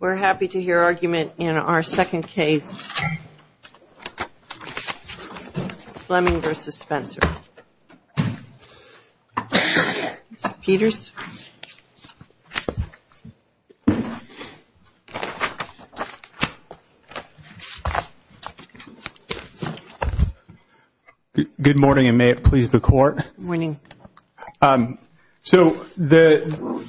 We're happy to hear argument in our second case, Fleming v. Spencer. Mr. Peters? Good morning, and may it please the Court. Good morning. So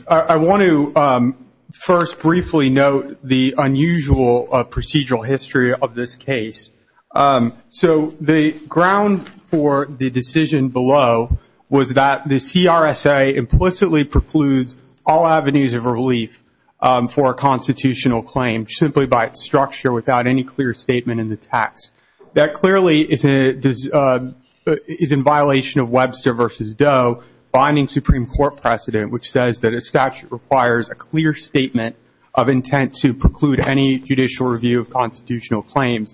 I want to first briefly note the unusual procedural history of this case. So the ground for the decision below was that the CRSA implicitly precludes all avenues of relief for a constitutional claim simply by its structure without any clear statement in the text. That clearly is in violation of Webster v. Doe binding Supreme Court precedent, which says that a statute requires a clear statement of intent to preclude any judicial review of constitutional claims.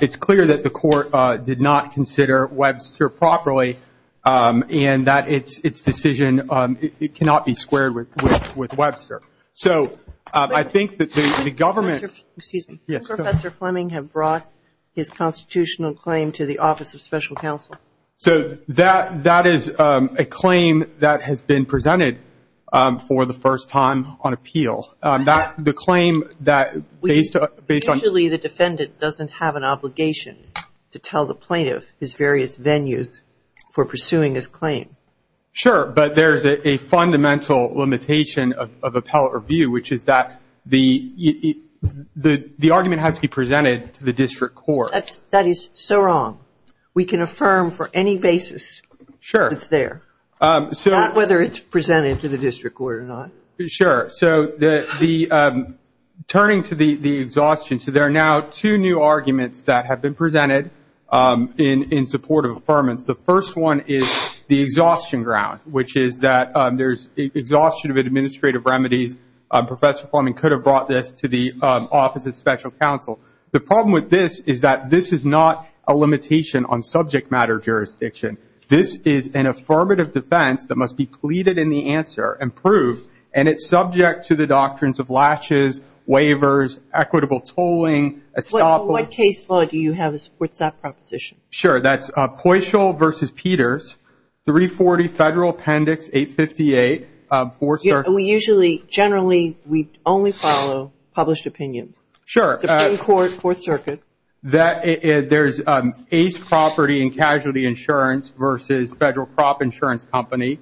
It's clear that the Court did not consider Webster properly and that its decision cannot be squared with Webster. So I think that the government — Excuse me. Yes, go ahead. Does Professor Fleming have brought his constitutional claim to the Office of Special Counsel? So that is a claim that has been presented for the first time on appeal. The claim that based on — Usually the defendant doesn't have an obligation to tell the plaintiff his various venues for pursuing his claim. Sure, but there's a fundamental limitation of appellate review, which is that the argument has to be presented to the district court. That is so wrong. We can affirm for any basis that it's there. Sure. Not whether it's presented to the district court or not. Sure. So turning to the exhaustion, so there are now two new arguments that have been presented in support of affirmance. The first one is the exhaustion ground, which is that there's exhaustion of administrative remedies. Professor Fleming could have brought this to the Office of Special Counsel. The problem with this is that this is not a limitation on subject matter jurisdiction. This is an affirmative defense that must be pleaded in the answer and proved, and it's subject to the doctrines of latches, waivers, equitable tolling. What case law do you have that supports that proposition? Sure. That's Poitras v. Peters, 340 Federal Appendix 858. We usually, generally, we only follow published opinions. Sure. Supreme Court, Fourth Circuit. There's Ace Property and Casualty Insurance v. Federal Crop Insurance Company.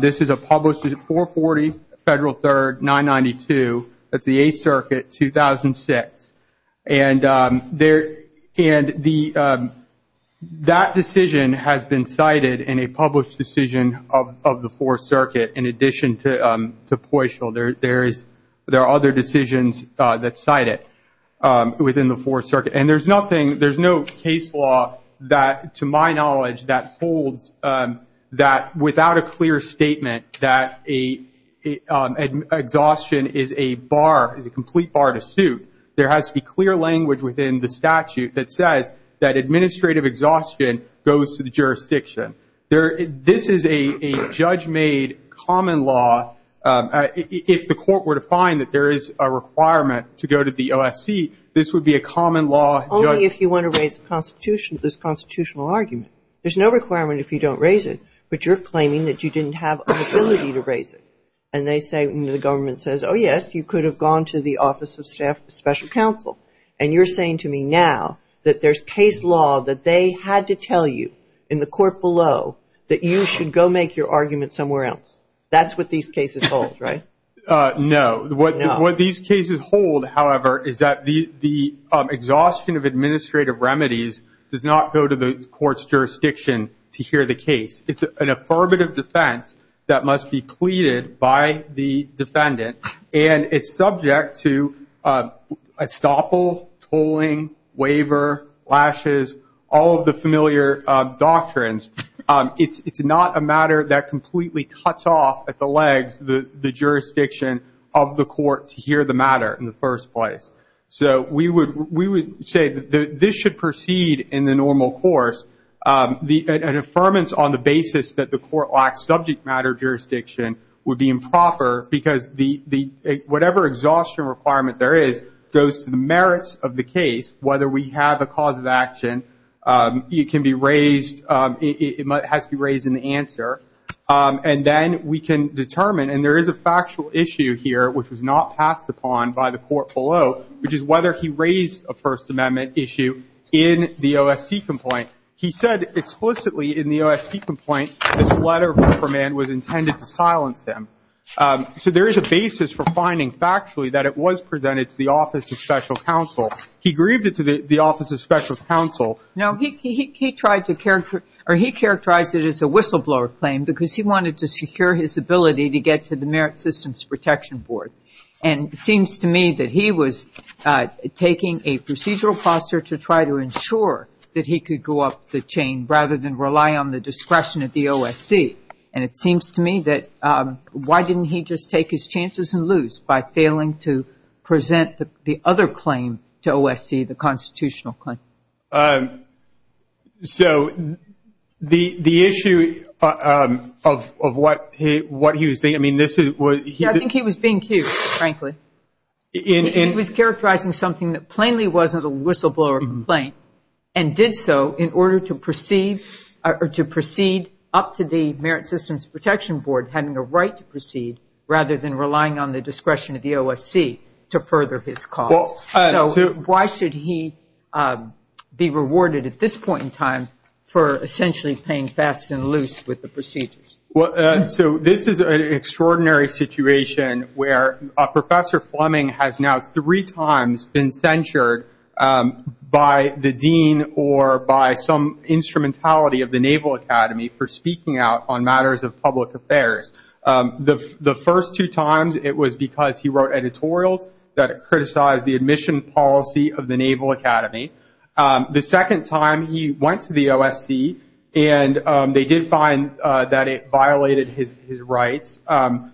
This is a published 440 Federal Third 992. That's the Eighth Circuit, 2006. And that decision has been cited in a published decision of the Fourth Circuit in addition to Poitras. There are other decisions that cite it within the Fourth Circuit. And there's nothing, there's no case law that, to my knowledge, that holds that without a clear statement that exhaustion is a bar, is a complete bar to suit. There has to be clear language within the statute that says that administrative exhaustion goes to the jurisdiction. This is a judge-made common law. If the court were to find that there is a requirement to go to the OSC, this would be a common law. Only if you want to raise this constitutional argument. There's no requirement if you don't raise it, but you're claiming that you didn't have an ability to raise it. And they say, the government says, oh, yes, you could have gone to the Office of Special Counsel. And you're saying to me now that there's case law that they had to tell you in the court below that you should go make your argument somewhere else. That's what these cases hold, right? No. What these cases hold, however, is that the exhaustion of administrative remedies does not go to the court's jurisdiction to hear the case. It's an affirmative defense that must be pleaded by the defendant. And it's subject to estoppel, tolling, waiver, lashes, all of the familiar doctrines. It's not a matter that completely cuts off at the legs the jurisdiction of the court to hear the matter in the first place. So we would say that this should proceed in the normal course. An affirmance on the basis that the court lacks subject matter jurisdiction would be improper because whatever exhaustion requirement there is goes to the merits of the case. Whether we have a cause of action, it has to be raised in the answer. And then we can determine, and there is a factual issue here which was not passed upon by the court below, which is whether he raised a First Amendment issue in the OSC complaint. He said explicitly in the OSC complaint that a letter of reprimand was intended to silence him. So there is a basis for finding factually that it was presented to the Office of Special Counsel. He grieved it to the Office of Special Counsel. Now, he tried to characterize it as a whistleblower claim because he wanted to secure his ability to get to the Merit Systems Protection Board. And it seems to me that he was taking a procedural posture to try to ensure that he could go up the chain rather than rely on the discretion of the OSC. And it seems to me that why didn't he just take his chances and lose by failing to present the other claim to OSC, the constitutional claim? So the issue of what he was saying, I mean, this is what he did. I think he was being cute, frankly. He was characterizing something that plainly wasn't a whistleblower complaint and did so in order to proceed up to the Merit Systems Protection Board having a right to proceed rather than relying on the discretion of the OSC to further his cause. So why should he be rewarded at this point in time for essentially playing fast and loose with the procedures? So this is an extraordinary situation where Professor Fleming has now three times been censured by the dean or by some instrumentality of the Naval Academy for speaking out on matters of public affairs. The first two times it was because he wrote editorials that criticized the admission policy of the Naval Academy. The second time he went to the OSC and they did find that it violated his rights. So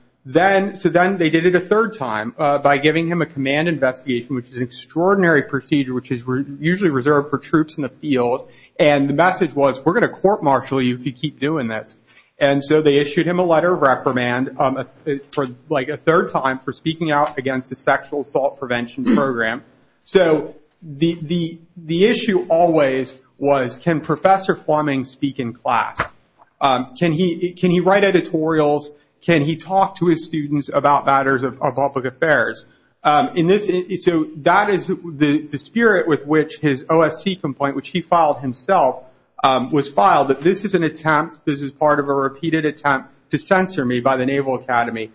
then they did it a third time by giving him a command investigation, which is an extraordinary procedure which is usually reserved for troops in the field. And the message was, we're going to court-martial you if you keep doing this. And so they issued him a letter of reprimand for like a third time for speaking out against the sexual assault prevention program. So the issue always was, can Professor Fleming speak in class? Can he write editorials? Can he talk to his students about matters of public affairs? So that is the spirit with which his OSC complaint, which he filed himself, was filed. This is an attempt, this is part of a repeated attempt to censor me by the Naval Academy.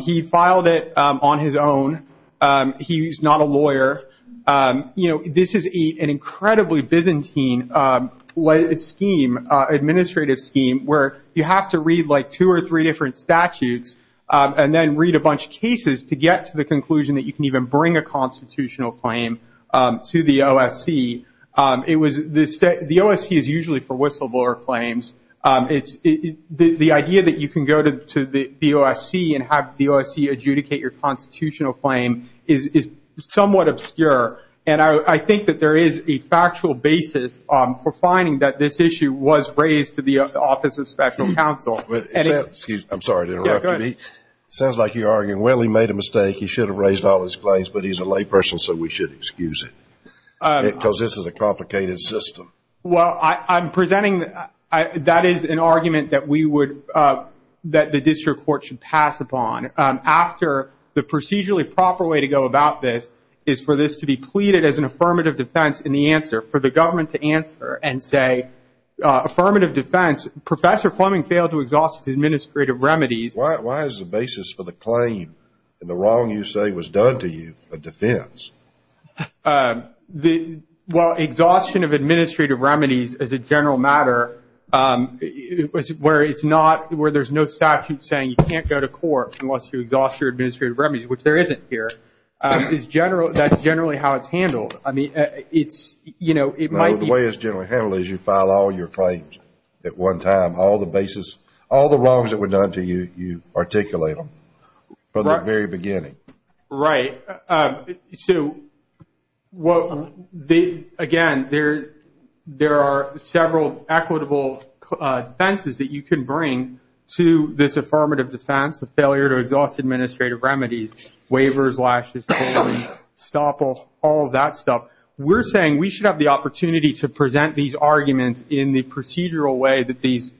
He filed it on his own. He's not a lawyer. This is an incredibly Byzantine scheme, administrative scheme, where you have to read like two or three different statutes and then read a bunch of cases to get to the conclusion that you can even bring a constitutional claim to the OSC. The OSC is usually for whistleblower claims. The idea that you can go to the OSC and have the OSC adjudicate your constitutional claim is somewhat obscure. And I think that there is a factual basis for finding that this issue was raised to the Office of Special Counsel. Excuse me. I'm sorry to interrupt you. It sounds like you're arguing, well, he made a mistake. He should have raised all his claims, but he's a layperson, so we should excuse him. Because this is a complicated system. Well, I'm presenting that that is an argument that we would, that the district court should pass upon. After the procedurally proper way to go about this is for this to be pleaded as an affirmative defense in the answer, for the government to answer and say affirmative defense, Professor Fleming failed to exhaust his administrative remedies. Why is the basis for the claim in the wrong you say was done to you a defense? Well, exhaustion of administrative remedies is a general matter where it's not, where there's no statute saying you can't go to court unless you exhaust your administrative remedies, which there isn't here, is general, that's generally how it's handled. I mean, it's, you know, it might be. Well, the way it's generally handled is you file all your claims at one time. All the basis, all the wrongs that were done to you, you articulate them from the very beginning. Right. So, again, there are several equitable defenses that you can bring to this affirmative defense, a failure to exhaust administrative remedies, waivers, lashes, stop all of that stuff. We're saying we should have the opportunity to present these arguments in the procedural way that these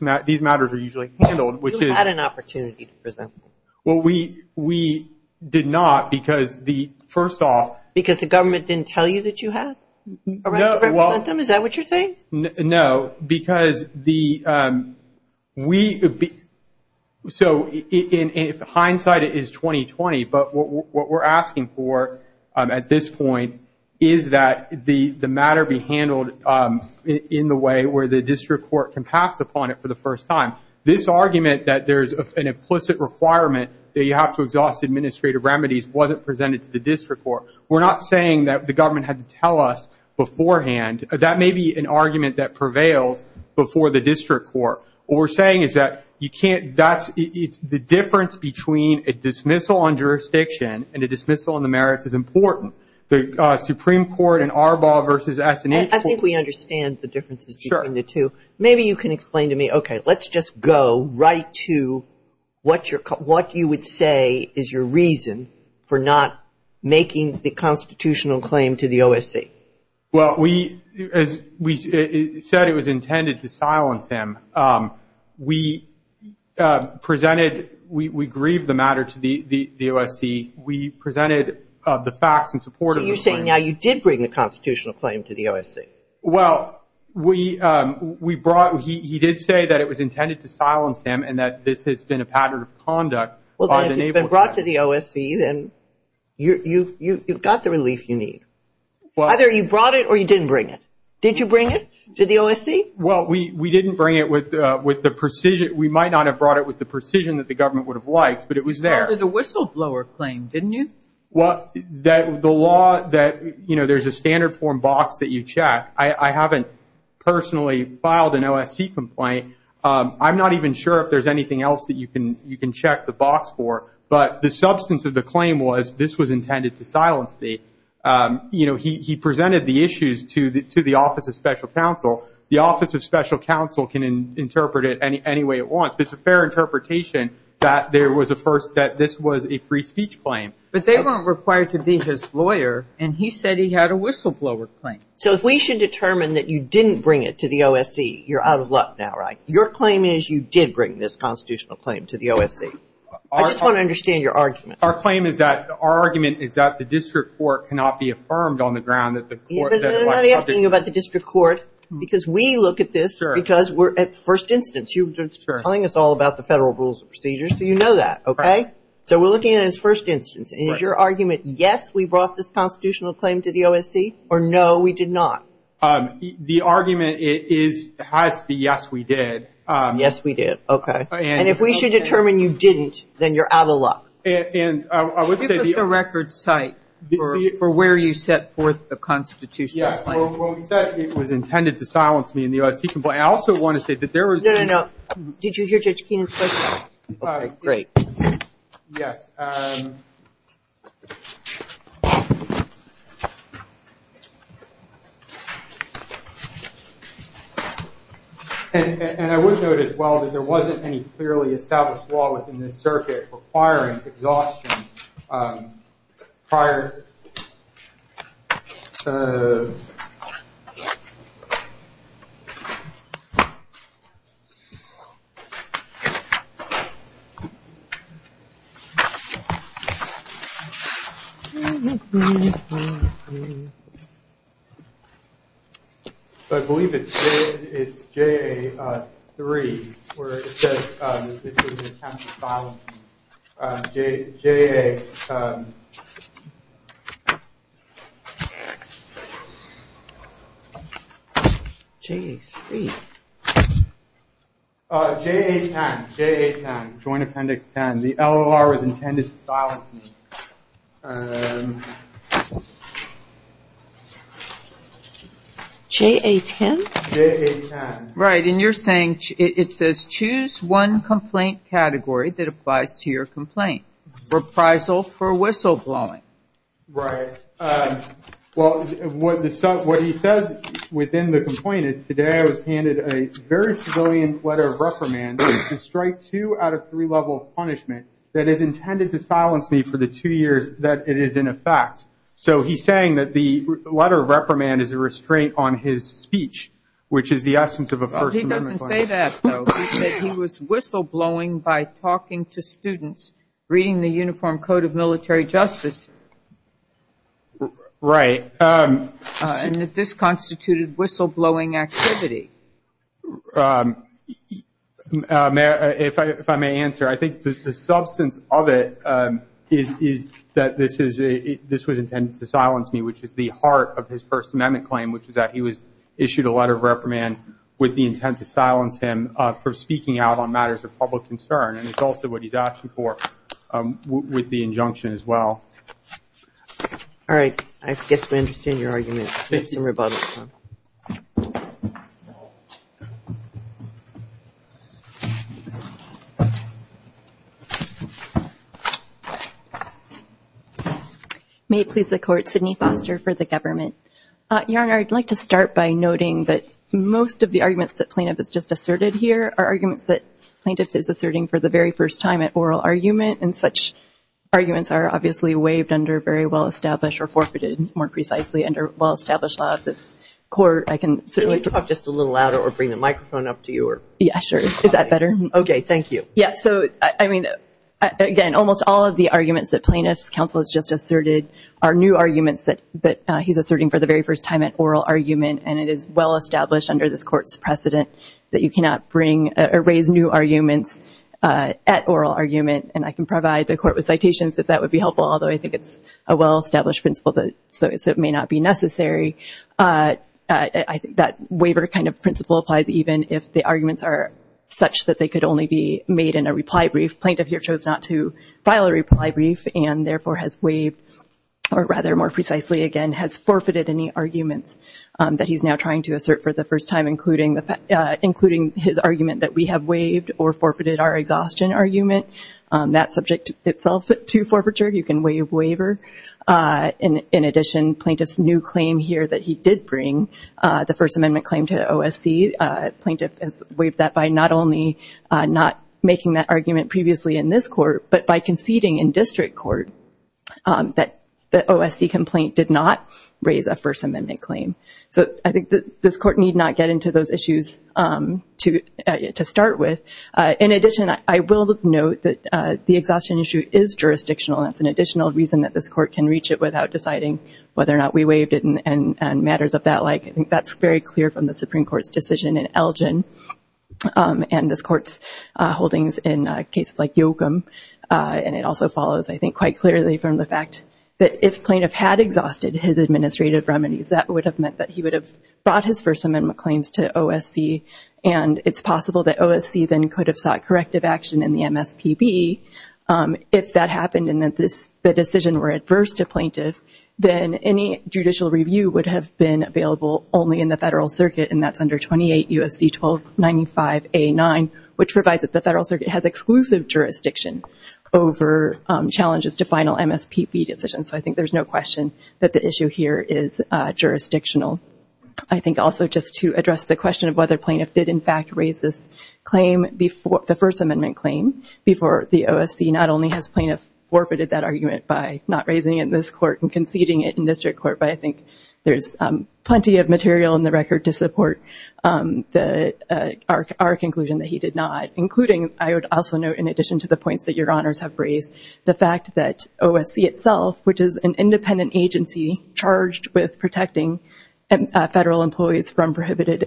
matters are usually handled. You had an opportunity to present them. Well, we did not because the, first off. Because the government didn't tell you that you had? No, well. Is that what you're saying? No, because the, we, so in hindsight it is 2020, but what we're asking for at this point is that the matter be handled in the way where the district court can pass upon it for the first time. This argument that there's an implicit requirement that you have to exhaust administrative remedies wasn't presented to the district court. We're not saying that the government had to tell us beforehand. That may be an argument that prevails before the district court. What we're saying is that you can't, that's, it's the difference between a dismissal on jurisdiction and a dismissal on the merits is important. The Supreme Court in Arbaugh v. S&H. I think we understand the differences between the two. Sure. Maybe you can explain to me, okay, let's just go right to what you would say is your reason for not making the constitutional claim to the OSC. Well, we said it was intended to silence him. We presented, we grieved the matter to the OSC. We presented the facts in support of the claim. So you're saying now you did bring the constitutional claim to the OSC? Well, we brought, he did say that it was intended to silence him and that this has been a pattern of conduct. Well, then if it's been brought to the OSC, then you've got the relief you need. Either you brought it or you didn't bring it. Did you bring it to the OSC? Well, we didn't bring it with the precision, we might not have brought it with the precision that the government would have liked, but it was there. You brought it to the whistleblower claim, didn't you? Well, the law that, you know, there's a standard form box that you check. I haven't personally filed an OSC complaint. I'm not even sure if there's anything else that you can check the box for, but the substance of the claim was this was intended to silence me. You know, he presented the issues to the Office of Special Counsel. The Office of Special Counsel can interpret it any way it wants. It's a fair interpretation that this was a free speech claim. But they weren't required to be his lawyer, and he said he had a whistleblower claim. So if we should determine that you didn't bring it to the OSC, you're out of luck now, right? Your claim is you did bring this constitutional claim to the OSC. I just want to understand your argument. Our claim is that, our argument is that the district court cannot be affirmed on the ground that the court – I'm not asking you about the district court, because we look at this because we're at first instance. You've been telling us all about the federal rules and procedures, so you know that, okay? So we're looking at it as first instance. And is your argument yes, we brought this constitutional claim to the OSC, or no, we did not? The argument is it has to be yes, we did. Yes, we did. Okay. And if we should determine you didn't, then you're out of luck. And I would say the – I think it's a record site for where you set forth the constitutional claim. Yeah. So when we said it was intended to silence me in the OSC complaint, I also want to say that there was – No, no, no. Did you hear Judge Keenan's question? Great. Yes. And I would note as well that there wasn't any clearly established law within this circuit requiring exhaustion prior – I believe it's JA3 where it says this is an attempt to silence me. JA – JA3. JA10. JA10. Joint Appendix 10. The LOR was intended to silence me. JA10? JA10. Right. And you're saying it says choose one complaint category that applies to your complaint. Reprisal for whistleblowing. Right. Well, what he says within the complaint is, today I was handed a very civilian letter of reprimand to strike two out of three levels of punishment that is intended to silence me for the two years that it is in effect. So he's saying that the letter of reprimand is a restraint on his speech, which is the essence of a First Amendment claim. He doesn't say that, though. He said he was whistleblowing by talking to students, reading the Uniform Code of Military Justice. Right. And that this constituted whistleblowing activity. If I may answer, I think the substance of it is that this was intended to silence me, which is the heart of his First Amendment claim, which is that he was issued a letter of reprimand with the intent to silence him for speaking out on matters of public concern. And it's also what he's asking for with the injunction as well. All right. I guess we understand your argument. We need some rebuttal. May it please the Court, Sidney Foster for the government. Your Honor, I'd like to start by noting that most of the arguments that Plaintiff has just asserted here are arguments that Plaintiff is asserting for the very first time at oral argument, and such arguments are obviously waived under very well-established or forfeited, more precisely under well-established law of this Court. I can certainly talk just a little louder or bring the microphone up to you. Yeah, sure. Is that better? Okay, thank you. Yeah, so, I mean, again, almost all of the arguments that Plaintiff's counsel has just asserted are new arguments that he's asserting for the very first time at oral argument, and it is well-established under this Court's precedent that you cannot bring or raise new arguments at oral argument. And I can provide the Court with citations if that would be helpful, although I think it's a well-established principle, so it may not be necessary. I think that waiver kind of principle applies even if the arguments are such that they could only be made in a reply brief. Plaintiff here chose not to file a reply brief and, therefore, has waived, or rather, more precisely, again, has forfeited any arguments that he's now trying to assert for the first time, including his argument that we have waived or forfeited our exhaustion argument. That's subject itself to forfeiture. You can waive waiver. In addition, Plaintiff's new claim here that he did bring, the First Amendment claim to OSC, Plaintiff has waived that by not only not making that argument previously in this Court, but by conceding in district court that the OSC complaint did not raise a First Amendment claim. So I think this Court need not get into those issues to start with. In addition, I will note that the exhaustion issue is jurisdictional. That's an additional reason that this Court can reach it without deciding whether or not we waived it and matters of that like. I think that's very clear from the Supreme Court's decision in Elgin and this Court's holdings in cases like Yoakum, and it also follows, I think, quite clearly from the fact that if Plaintiff had exhausted his administrative remedies, that would have meant that he would have brought his First Amendment claims to OSC, and it's possible that OSC then could have sought corrective action in the MSPB if that happened and that the decision were adverse to Plaintiff, then any judicial review would have been available only in the Federal Circuit, and that's under 28 U.S.C. 1295A9, which provides that the Federal Circuit has exclusive jurisdiction over challenges to final MSPB decisions. So I think there's no question that the issue here is jurisdictional. I think also just to address the question of whether Plaintiff did, in fact, raise this claim, the First Amendment claim, before the OSC, not only has Plaintiff forfeited that argument by not raising it in this Court and conceding it in District Court, but I think there's plenty of material in the record to support our conclusion that he did not, including, I would also note in addition to the points that your Honors have raised, the fact that OSC itself, which is an independent agency charged with protecting Federal employees from prohibited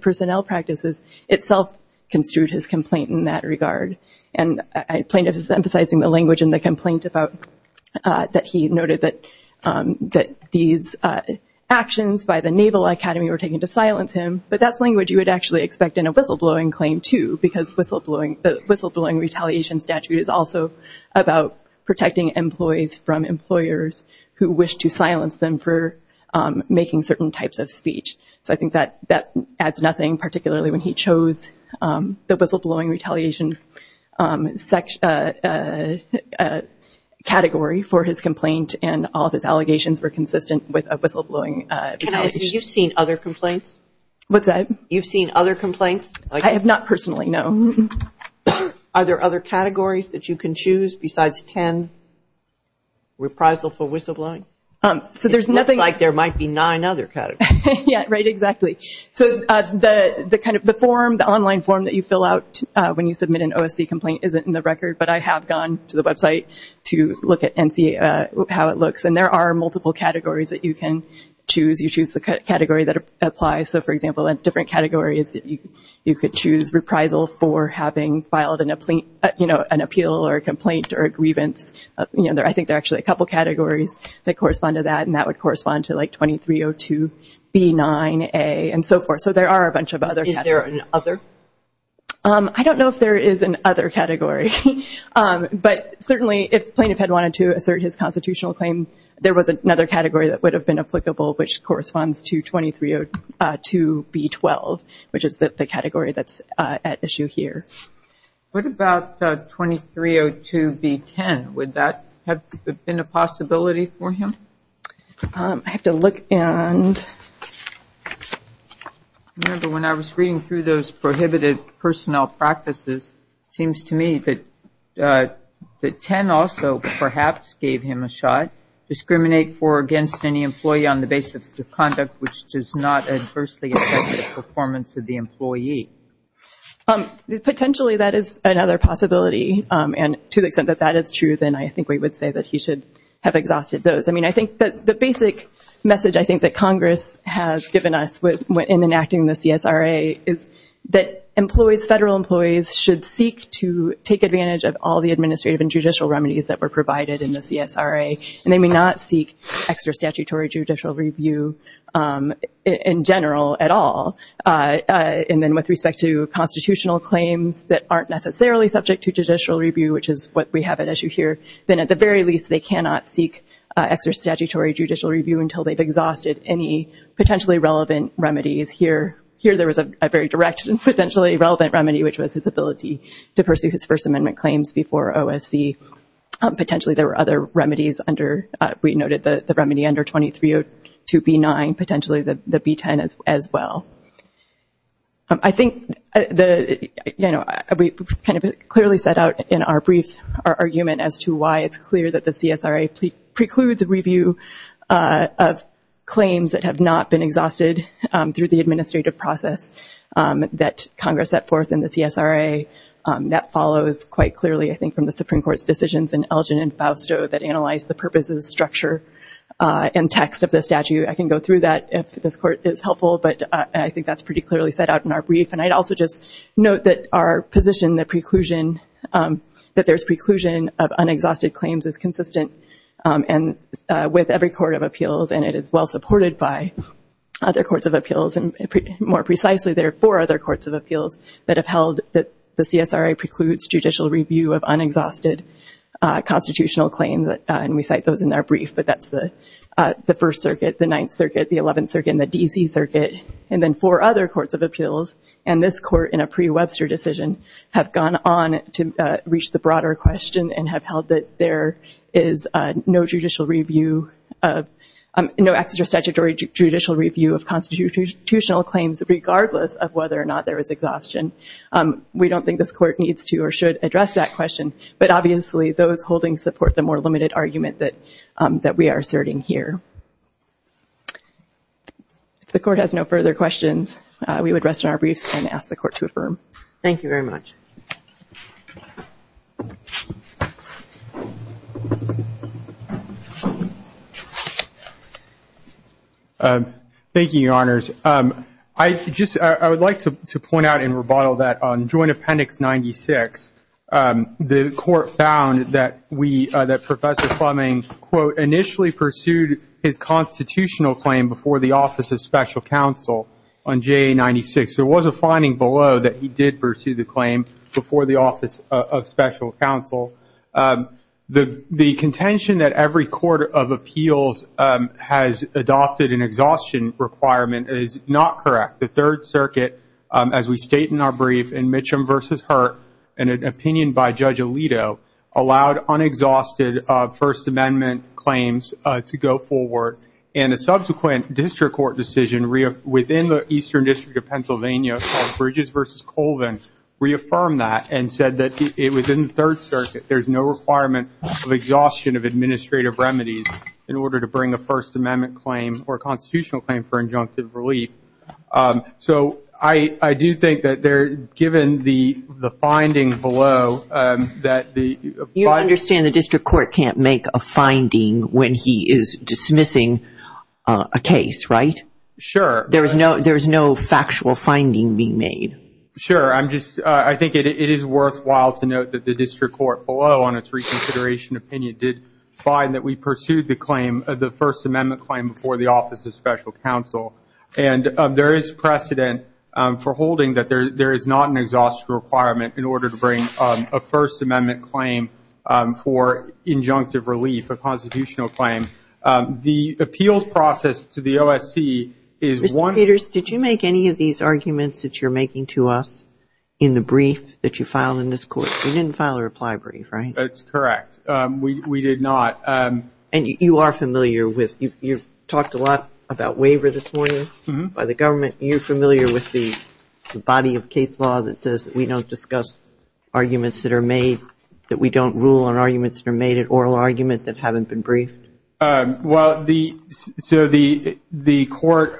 personnel practices, itself construed his complaint in that regard. And Plaintiff is emphasizing the language in the complaint about, that he noted that these actions by the Naval Academy were taken to silence him, but that's language you would actually expect in a whistleblowing claim, too, because the whistleblowing retaliation statute is also about protecting employees from employers who wish to silence them for making certain types of speech. So I think that adds nothing, particularly when he chose the whistleblowing retaliation category for his complaint and all of his allegations were consistent with a whistleblowing retaliation. Can I ask if you've seen other complaints? What's that? You've seen other complaints? I have not personally, no. Are there other categories that you can choose besides 10, reprisal for whistleblowing? It looks like there might be nine other categories. Yeah, right, exactly. So the online form that you fill out when you submit an OSC complaint isn't in the record, but I have gone to the website to look at it and see how it looks, and there are multiple categories that you can choose. You choose the category that applies. So, for example, in different categories you could choose reprisal for having filed an appeal or a complaint or a grievance. I think there are actually a couple categories that correspond to that, and that would correspond to 2302b9a and so forth. So there are a bunch of other categories. Is there an other? I don't know if there is an other category, but certainly if the plaintiff had wanted to assert his constitutional claim, there was another category that would have been applicable, which corresponds to 2302b12, which is the category that's at issue here. What about 2302b10? Would that have been a possibility for him? I have to look and... I remember when I was reading through those prohibited personnel practices, it seems to me that 10 also perhaps gave him a shot, discriminate for or against any employee on the basis of conduct which does not adversely affect the performance of the employee. Potentially that is another possibility, and to the extent that that is true then I think we would say that he should have exhausted those. I mean, I think the basic message I think that Congress has given us in enacting the CSRA is that federal employees should seek to take advantage of all the administrative and judicial remedies that were provided in the CSRA, and they may not seek extra statutory judicial review in general at all. And then with respect to constitutional claims that aren't necessarily subject to judicial review, which is what we have at issue here, then at the very least they cannot seek extra statutory judicial review until they've exhausted any potentially relevant remedies. Here there was a very direct and potentially relevant remedy, which was his ability to pursue his First Amendment claims before OSC. Potentially there were other remedies under, we noted the remedy under 2302B9, potentially the B10 as well. I think we kind of clearly set out in our briefs our argument as to why it's clear that the CSRA precludes a review of claims that have not been exhausted through the administrative process that Congress set forth in the CSRA. That follows quite clearly I think from the Supreme Court's decisions in Elgin and Fausto that analyze the purposes, structure, and text of the statute. I can go through that if this Court is helpful, but I think that's pretty clearly set out in our brief. And I'd also just note that our position, that there's preclusion of unexhausted claims is consistent with every Court of Appeals, and it is well supported by other Courts of Appeals. And more precisely, there are four other Courts of Appeals that have held that the CSRA precludes judicial review of unexhausted constitutional claims, and we cite those in our brief, but that's the First Circuit, the Ninth Circuit, the Eleventh Circuit, and the D.C. Circuit, and then four other Courts of Appeals, and this Court, in a pre-Webster decision, have gone on to reach the broader question and have held that there is no judicial review of, no access to a statutory judicial review of constitutional claims regardless of whether or not there is exhaustion. We don't think this Court needs to or should address that question, but obviously those holdings support the more limited argument that we are asserting here. If the Court has no further questions, we would rest in our briefs and ask the Court to affirm. Thank you very much. Thank you, Your Honors. I would like to point out in rebuttal that on Joint Appendix 96, the Court found that Professor Fleming, quote, initially pursued his constitutional claim before the Office of Special Counsel on J96. There was a finding below that he did pursue the claim before the Office of Special Counsel. The contention that every Court of Appeals has adopted an exhaustion requirement is not correct. The Third Circuit, as we state in our brief, in Mitcham v. Hurt, in an opinion by Judge Alito, allowed unexhausted First Amendment claims to go forward. And a subsequent district court decision within the Eastern District of Pennsylvania, called Bridges v. Colvin, reaffirmed that and said that within the Third Circuit, there is no requirement of exhaustion of administrative remedies in order to bring a First Amendment claim or a constitutional claim for injunctive relief. So I do think that given the finding below that the- You understand the district court can't make a finding when he is dismissing a case, right? Sure. There is no factual finding being made. Sure. I think it is worthwhile to note that the district court, below on its reconsideration opinion, did find that we pursued the claim of the First Amendment claim before the Office of Special Counsel. And there is precedent for holding that there is not an exhaustion requirement in order to bring a First Amendment claim for injunctive relief, a constitutional claim. The appeals process to the OSC is one- Mr. Peters, did you make any of these arguments that you're making to us in the brief that you filed in this court? You didn't file a reply brief, right? That's correct. We did not. And you are familiar with- you talked a lot about waiver this morning by the government. You're familiar with the body of case law that says we don't discuss arguments that are made, that we don't rule on arguments that are made in oral argument that haven't been briefed? Well, the- so the court-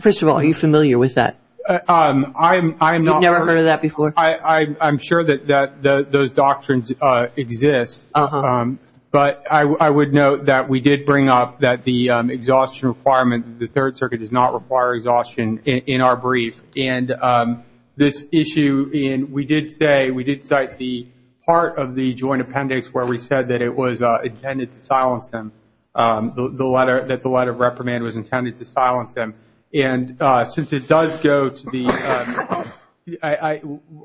First of all, are you familiar with that? I am not. You've never heard of that before? I'm sure that those doctrines exist. But I would note that we did bring up that the exhaustion requirement, the Third Circuit does not require exhaustion in our brief. And this issue, we did say- we did cite the part of the joint appendix where we said that it was intended to silence him, that the letter of reprimand was intended to silence him. And since it does go to the-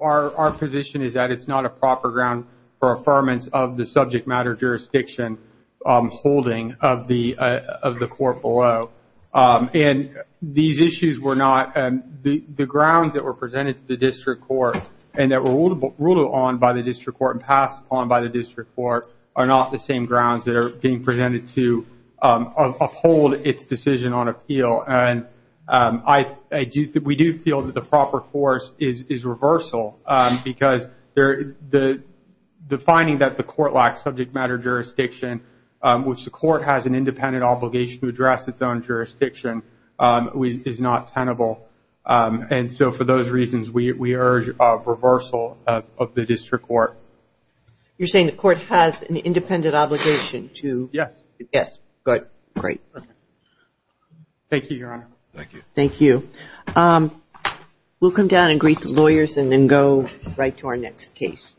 our position is that it's not a proper ground for affirmance of the subject matter jurisdiction holding of the court below. And these issues were not- the grounds that were presented to the district court and that were ruled on by the district court and I do- we do feel that the proper course is reversal because there- the finding that the court lacks subject matter jurisdiction, which the court has an independent obligation to address its own jurisdiction, is not tenable. And so for those reasons, we urge a reversal of the district court. You're saying the court has an independent obligation to- Yes. Yes. But- great. Okay. Thank you, Your Honor. Thank you. Thank you. We'll come down and greet the lawyers and then go right to our next case.